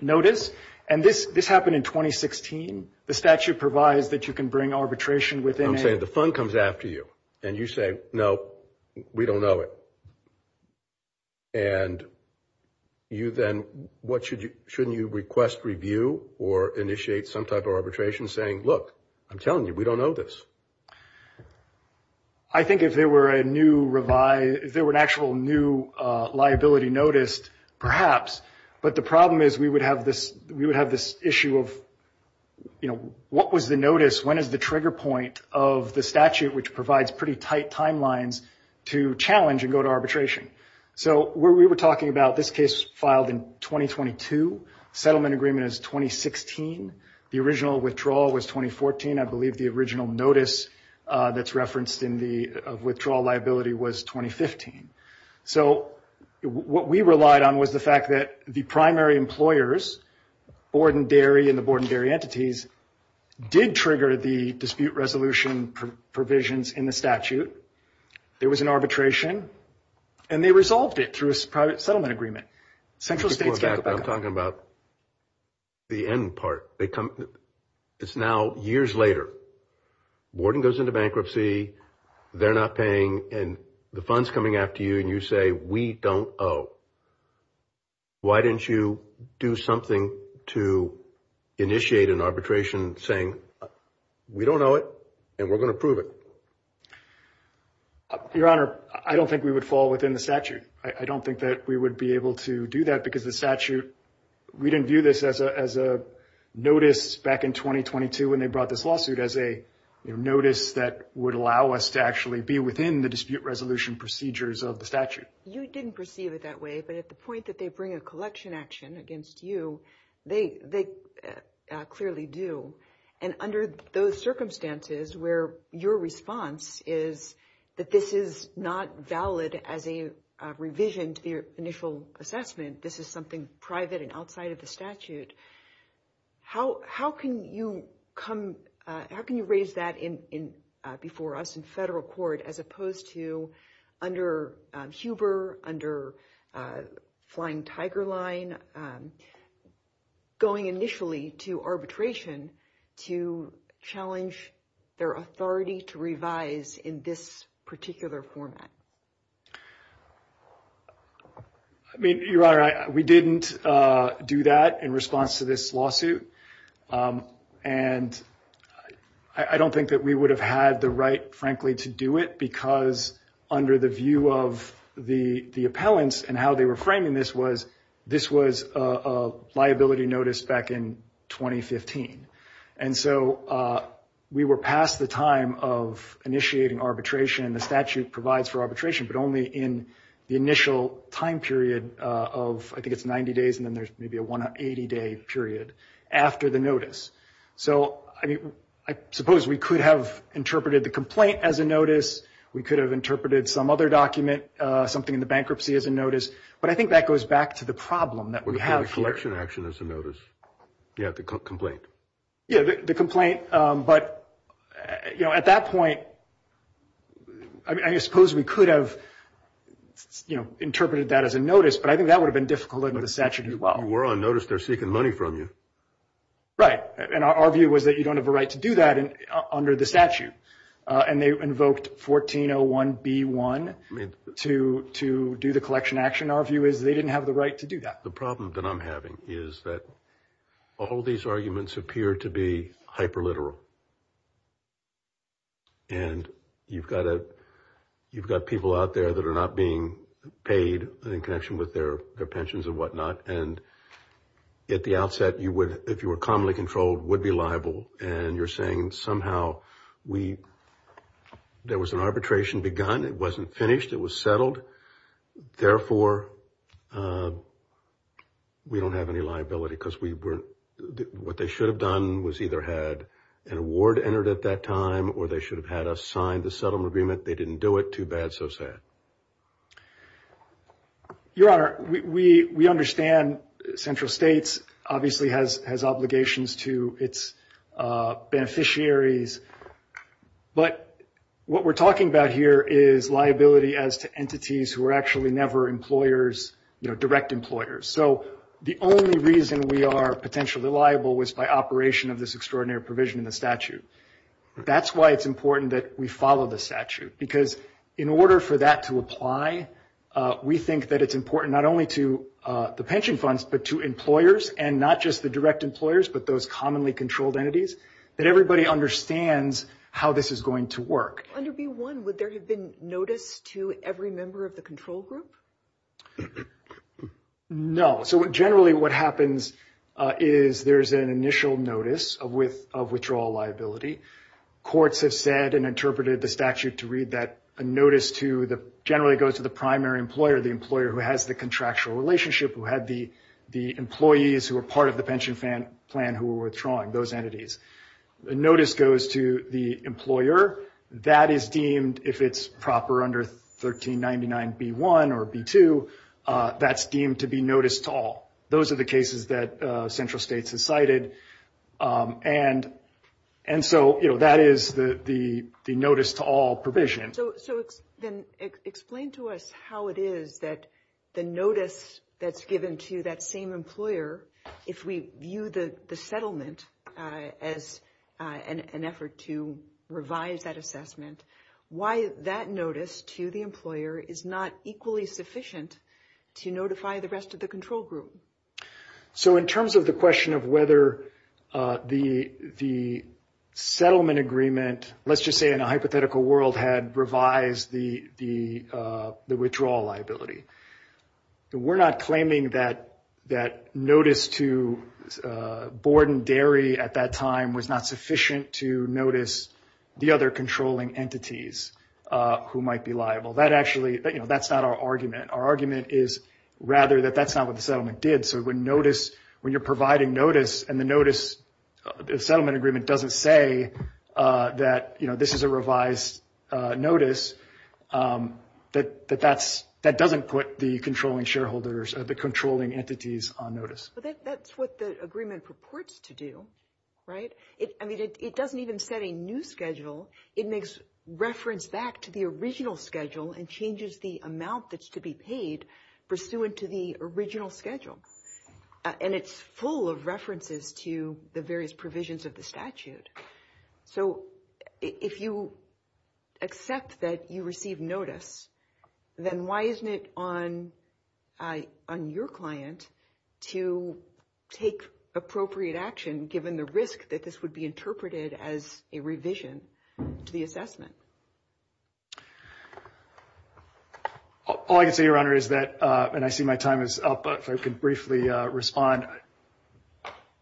notice and this happened in 2016. The statute provides that you can bring arbitration within a I'm saying the fund comes after you and you say, no, we don't know it. And you then, what should you, shouldn't you request review or initiate some type of arbitration saying, I'm telling you, we don't know this. I think if there were a new revised, if there were an actual new liability noticed, perhaps, but the problem is we would have this, we would have this issue of, you know, what was the notice? When is the trigger point of the statute which provides pretty tight timelines to challenge and go to arbitration? So, we were talking about this case filed in 2022. Settlement agreement is 2016. The original withdrawal was 2014. I believe the original notice that's referenced in the withdrawal liability was 2015. So, what we relied on was the fact that the primary employers, Borden Dairy and the Borden Dairy entities, did trigger the dispute resolution provisions in the statute. There was an agreement and they resolved it through a private settlement agreement. Central States got back up. I'm talking about the end part. It's now years later. Borden goes into bankruptcy. They're not paying and the funds coming after you and you say we don't owe. Why didn't you do something to initiate an arbitration saying we don't owe it and we're going to prove it? Your Honor, I don't think we would fall within the statute. I don't think that we would be able to do that because the statute, we didn't view this as a notice back in 2022 when they brought this lawsuit as a notice that would allow us to actually be within the dispute resolution procedures of the statute. You didn't perceive it that way but at the point that they bring a collection action against you, they clearly do. And under those circumstances where your response is that this is not valid as a revision to the initial assessment, this is something private and outside of the statute, how can you come, how can you raise that before us in federal court as opposed to under Huber, under Flying Tiger Line going initially to arbitration to challenge their authority to revise this in this particular format? I mean, we didn't do that in response to this lawsuit and I don't think that we would have had the right frankly to do it because under the view of the appellants and how they were framing this was this was a liability notice back in 2015. And so we were past the time of initiating arbitration and the statute provides for arbitration but only in the initial time period of, I think it's 90 days and then there's maybe a 180 day period after the notice. So, I mean, I suppose we could have interpreted the complaint as a we could have interpreted some other document, something in the bankruptcy as a but I think that goes back to the problem that we have here. The collection action as a notice. Yeah, the complaint. Yeah, the complaint but at that point I suppose we could have interpreted that as a notice but I think that would have been difficult under the statute as well. You were on notice they're seeking money from you. Right. And our view was that you don't have a right to do that under the statute and they invoked 1401B1 to do the collection action. Our view is they didn't have the right to do that. The problem that I'm having is that all these arguments appear to be hyper literal and you've got people out there that are not being paid in connection with their pensions and whatnot and at the outset you would if you were commonly controlled would be liable and you're saying somehow we there was an arbitration begun it wasn't finished it was therefore we don't have any liability because what they should have done was either had an award entered at that time or they should have had us sign the settlement agreement they didn't do it too bad so sad. Your Honor we understand Central States obviously has obligations to its beneficiaries but what we're talking about here is liability as to entities who are actually never employers direct employers so the only reason we are potentially liable was by operation of this extraordinary provision in the statute that's why it's important that we follow the statute because in order for that to apply we think that it's important not only to the pension funds but to employers and not just the direct employers but those commonly controlled entities that everybody understands how this is going to work. Under B1 would there have been notice to every member of the control group? No. So generally what happens is there's an initial notice of withdrawal liability courts have said and interpreted the statute to read that notice to generally goes to the primary employer the employer who has the contractual relationship who had the employees who were part of the pension plan who were withdrawing those entities. The notice goes to the employer that is deemed if it's proper under 1399 B1 or B2 that's deemed to be notice to all. Those are the cases that Central States has cited and so that is the notice to all provision. So then explain to us how it is that the notice that's given to that same employer if we view the settlement as an effort to revise that assessment why that notice to the employer is not equally sufficient to notify the rest of the control group? So in terms of the question of whether the settlement agreement let's just say in a hypothetical world had revised the withdrawal liability. We're not claiming that notice to Borden Dairy at that time was not sufficient to notice the other controlling entities who might be liable. That actually that's not our argument. Our argument is rather that that's not what the settlement did so when notice when you're providing notice and the notice the settlement agreement doesn't say that this is a revised notice that that's that doesn't put the controlling shareholders or the controlling entities on notice. But that's what the agreement purports to do right? I mean it doesn't even set a new schedule it makes reference back to the original schedule and changes the amount that's to be paid pursuant to the original schedule and it's full of references to the various provisions of the statute. So if you accept that you receive notice then why isn't it on your client to take appropriate action given the risk that this would be interpreted as a revision to the assessment? All I can say Your Honor is that and I see my time is up if I can briefly respond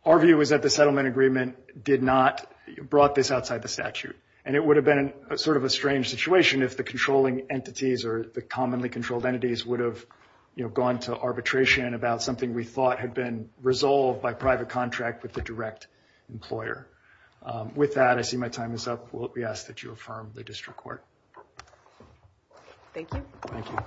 our view is that the settlement agreement did not brought this outside the statute and it would have been sort of a strange situation if the controlling entities or the commonly controlled entities would have gone to arbitration about something we thought had been resolved by private contract with the direct employer. With that I see my time is up we ask that you affirm the district court. Thank you. Thank you.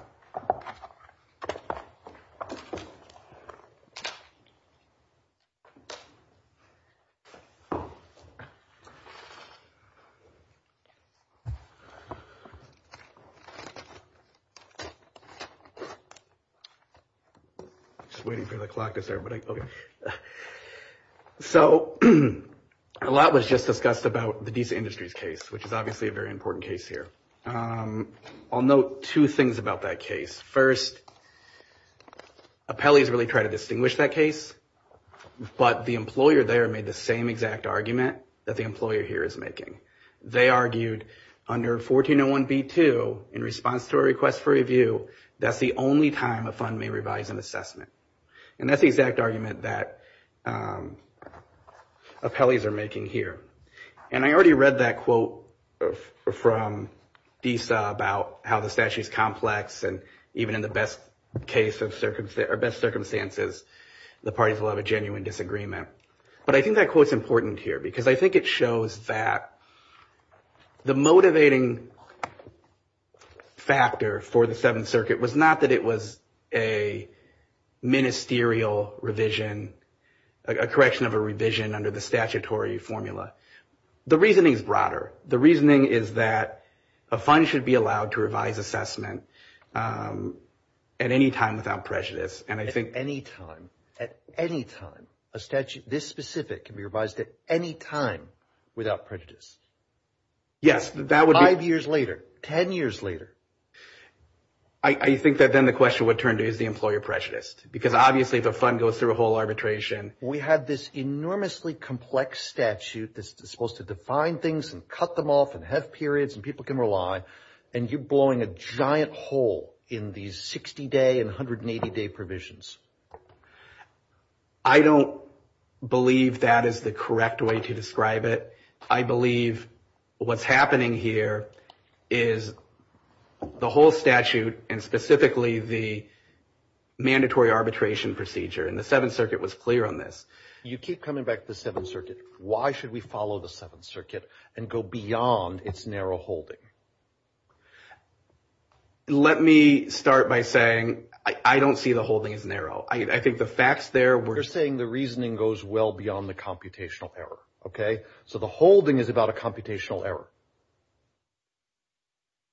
Just waiting for the clock to start but okay. So a lot was just discussed about the decent industries case which is obviously a very important case here. I'll note two things about that case. First appellees really try to distinguish that case but the employer there made the same exact argument that the employer here is making. So they argued under 1401B2 in response to a request for review that's the only time a fund may revise an assessment. And that's the exact argument that appellees are making here. And I already read that quote from DISA about how the statute is complex and even in the best case or best circumstances the parties will have a genuine disagreement. But I think that quote is important here because I think it shows that the motivating factor for the Seventh Circuit was not that it was a ministerial revision a correction of a revision under the statutory formula. The reasoning is broader. The reasoning is that a fund should be allowed to revise assessment at any time without prejudice. And I think At any time at any time a statute this specific that can be revised at any time without prejudice. Yes. Five years later ten years later I think that then the question would turn to is the employer prejudiced? Because obviously the fund goes through a whole arbitration. We had this enormously complex statute that's supposed to define things and cut them off and have periods and people can rely and you're blowing a giant hole in these That is the correct way to describe it. I believe what's happening here is the whole statute and specifically the mandatory arbitration procedure. And the Seventh Circuit was clear on this. You keep coming back to the Seventh Circuit. Why should we follow the Seventh Circuit and go beyond its narrow holding? Let me give you error. So the holding is about a error.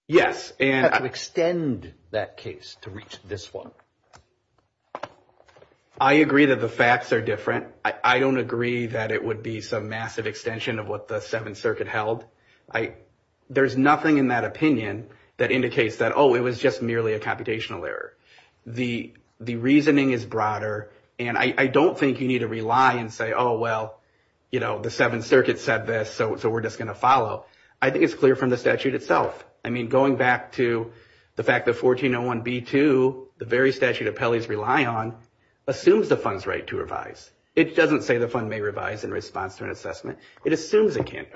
Yes. To extend that case to reach this one. I agree that the facts are different. I don't agree that it would be some massive extension of what the Seventh Circuit said this, so we're just going to I think it's clear from the statute itself. Going back to the fact that 1401B2 assumes the fund's right to revise. It doesn't say the fund may revise in response to an assessment. It assumes it can't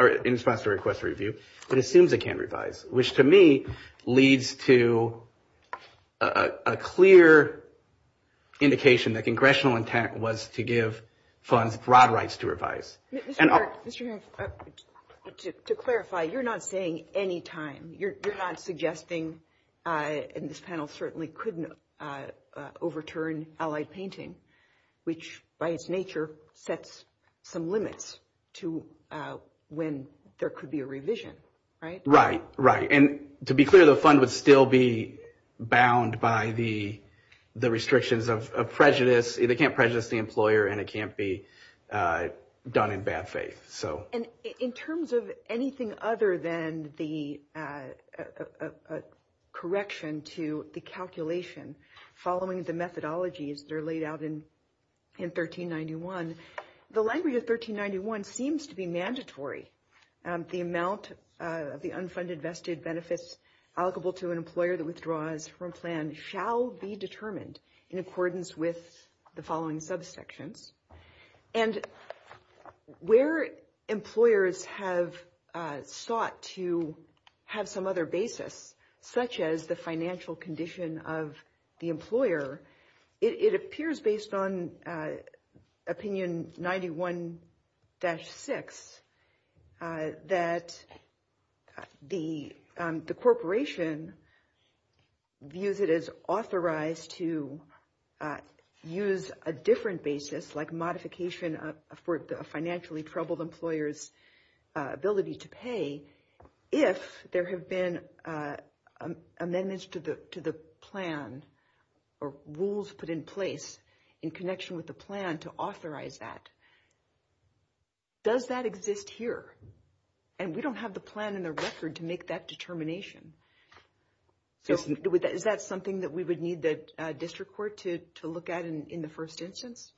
Which to me leads to a clear indication that Congressional intent was to give funds broad rights to Mr. Garff, to clarify, you're not saying any time. You're not suggesting, and this panel certainly couldn't overturn allied painting, which by its nature sets some limits to when there could be a Right? Right. And to be clear, the fund would still be bound by the restrictions of prejudice. They can't prejudice the employer and it can't be done in bad faith. And in terms of anything other than the correction to the calculation following the methodologies that are laid out in 1391, the language of 1391 seems to be mandatory. The amount of the unfunded vested benefits allocable to an employer that withdraws from plan shall be determined in accordance with the following subsections. And where employers have sought to have some other basis, such as the financial condition of the it appears based on opinion 91-6 that the corporation views it as authorized to use a different basis like modification for a financially troubled employer's ability to pay if there have been amendments to the plan or rules put in place in connection with the plan to authorize that. Does that exist here? And we don't have the plan in the record to make that determination. Is that something that we would need the district court to look at in the first instance?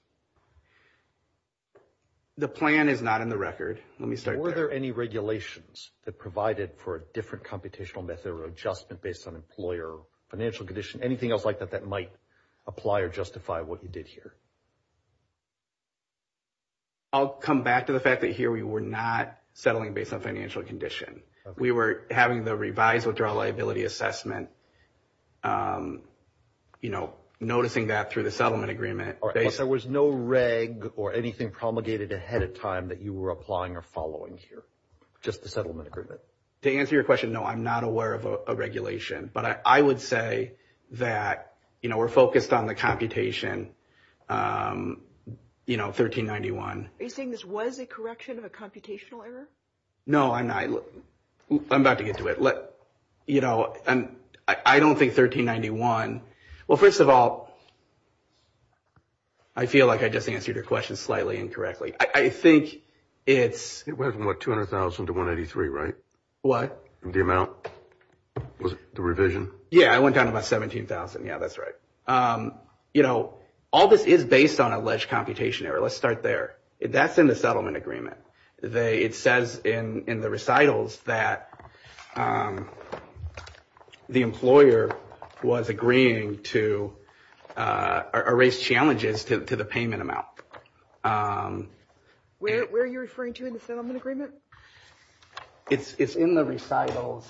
The plan is not in the record. Let me start there. Were there any regulations that provided for a different computational method or adjustment based on financial I'll come back to the fact that here we were not settling based on financial condition. We were having the revised withdrawal liability assessment, noticing that through the agreement. There was no reg or anything promulgated ahead of time that you were applying or following here. Just the settlement agreement. To answer your question, no, I'm not aware of a regulation. But I would say that we're focused on the computation 1391. Are you saying this was a correction of a computational error? No, I'm not. I'm about to get to it. I don't think 1391 well, first of all, I feel like I just answered your question slightly incorrectly. I think it's 200,000 to 183, right? What? The amount, the revision. Yeah, I went down to 17,000. That's right. All this is based on alleged computation error. Let's start there. That's in the settlement agreement. It says in the recitals that the revised Where are you referring to in the settlement agreement? It's in the recitals.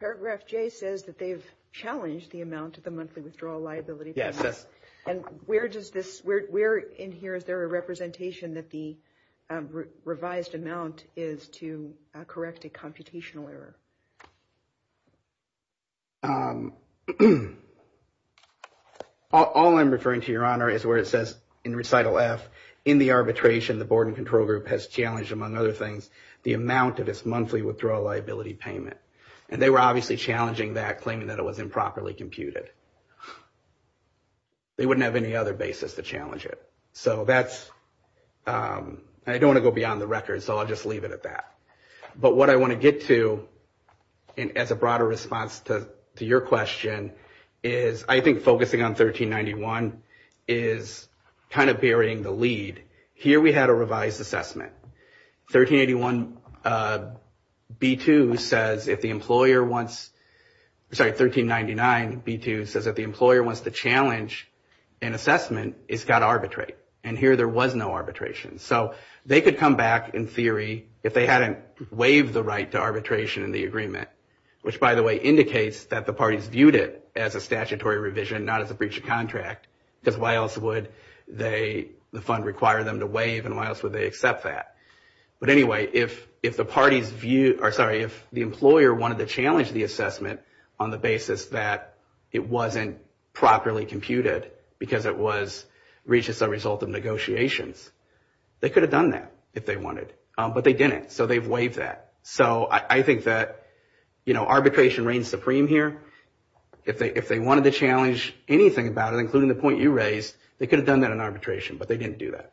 Paragraph J says that they've the amount of the monthly withdrawal liability. Yes. And where in here is there a representation that the revised amount is to correct a computational error? All I'm referring to, is where it says in recital F, in the arbitration, the board and control group has challenged, among other things, the amount of its monthly withdrawal liability payment. And they were obviously challenging that, claiming that it was improperly calculated. They wouldn't have any other basis to challenge it. So that's I don't want to go beyond the record, so I'll just leave it at that. But what I want to get to as a broader response to your question is I think focusing on 1391 is kind of bearing the lead. Here we had a revised assessment. 1381 B2 says if the employer wants sorry, 1399 B2 says if the employer wants to challenge an assessment, it's got to arbitrate. And here there was no arbitration. So they could come back in theory if they hadn't waived the right to arbitration in the which by the way indicates that the parties viewed it as a statutory revision, not as a breach of contract, because why else would the fund require them to waive and why else would they accept that? But anyway, if the parties viewed sorry, if the employer wanted to challenge the assessment on the basis that it wasn't properly computed because it was reached as a result of negotiations, they could have done that if they wanted, but they didn't, so they've waived that. So I think that arbitration reigns supreme here. If they wanted to challenge anything about it, including the point you raised, they could have done that in arbitration, but they didn't do that.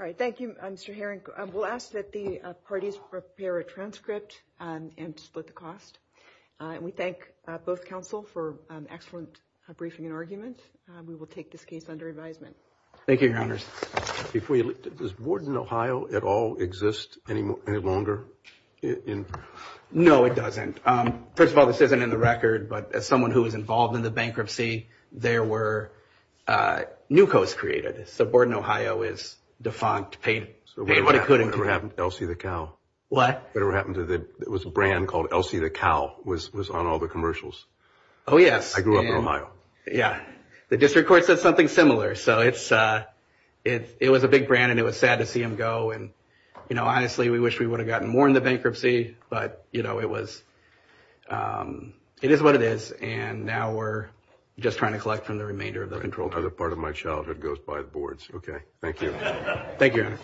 All right, thank you, Mr. Herring. We'll ask that the parties prepare a transcript and split the We thank both counsel for excellent briefing and We will take this case under advisement. Thank you, Does Borden Ohio at all exist any longer? No, it doesn't. First of all, this isn't in the record, but as someone who was involved in the district court, a big brand. It was sad to see him go. Honestly, we wish we would have gotten more in the bankruptcy, but it is what it is, and now we're just trying to collect from the remainder of the control. Part of my childhood goes by the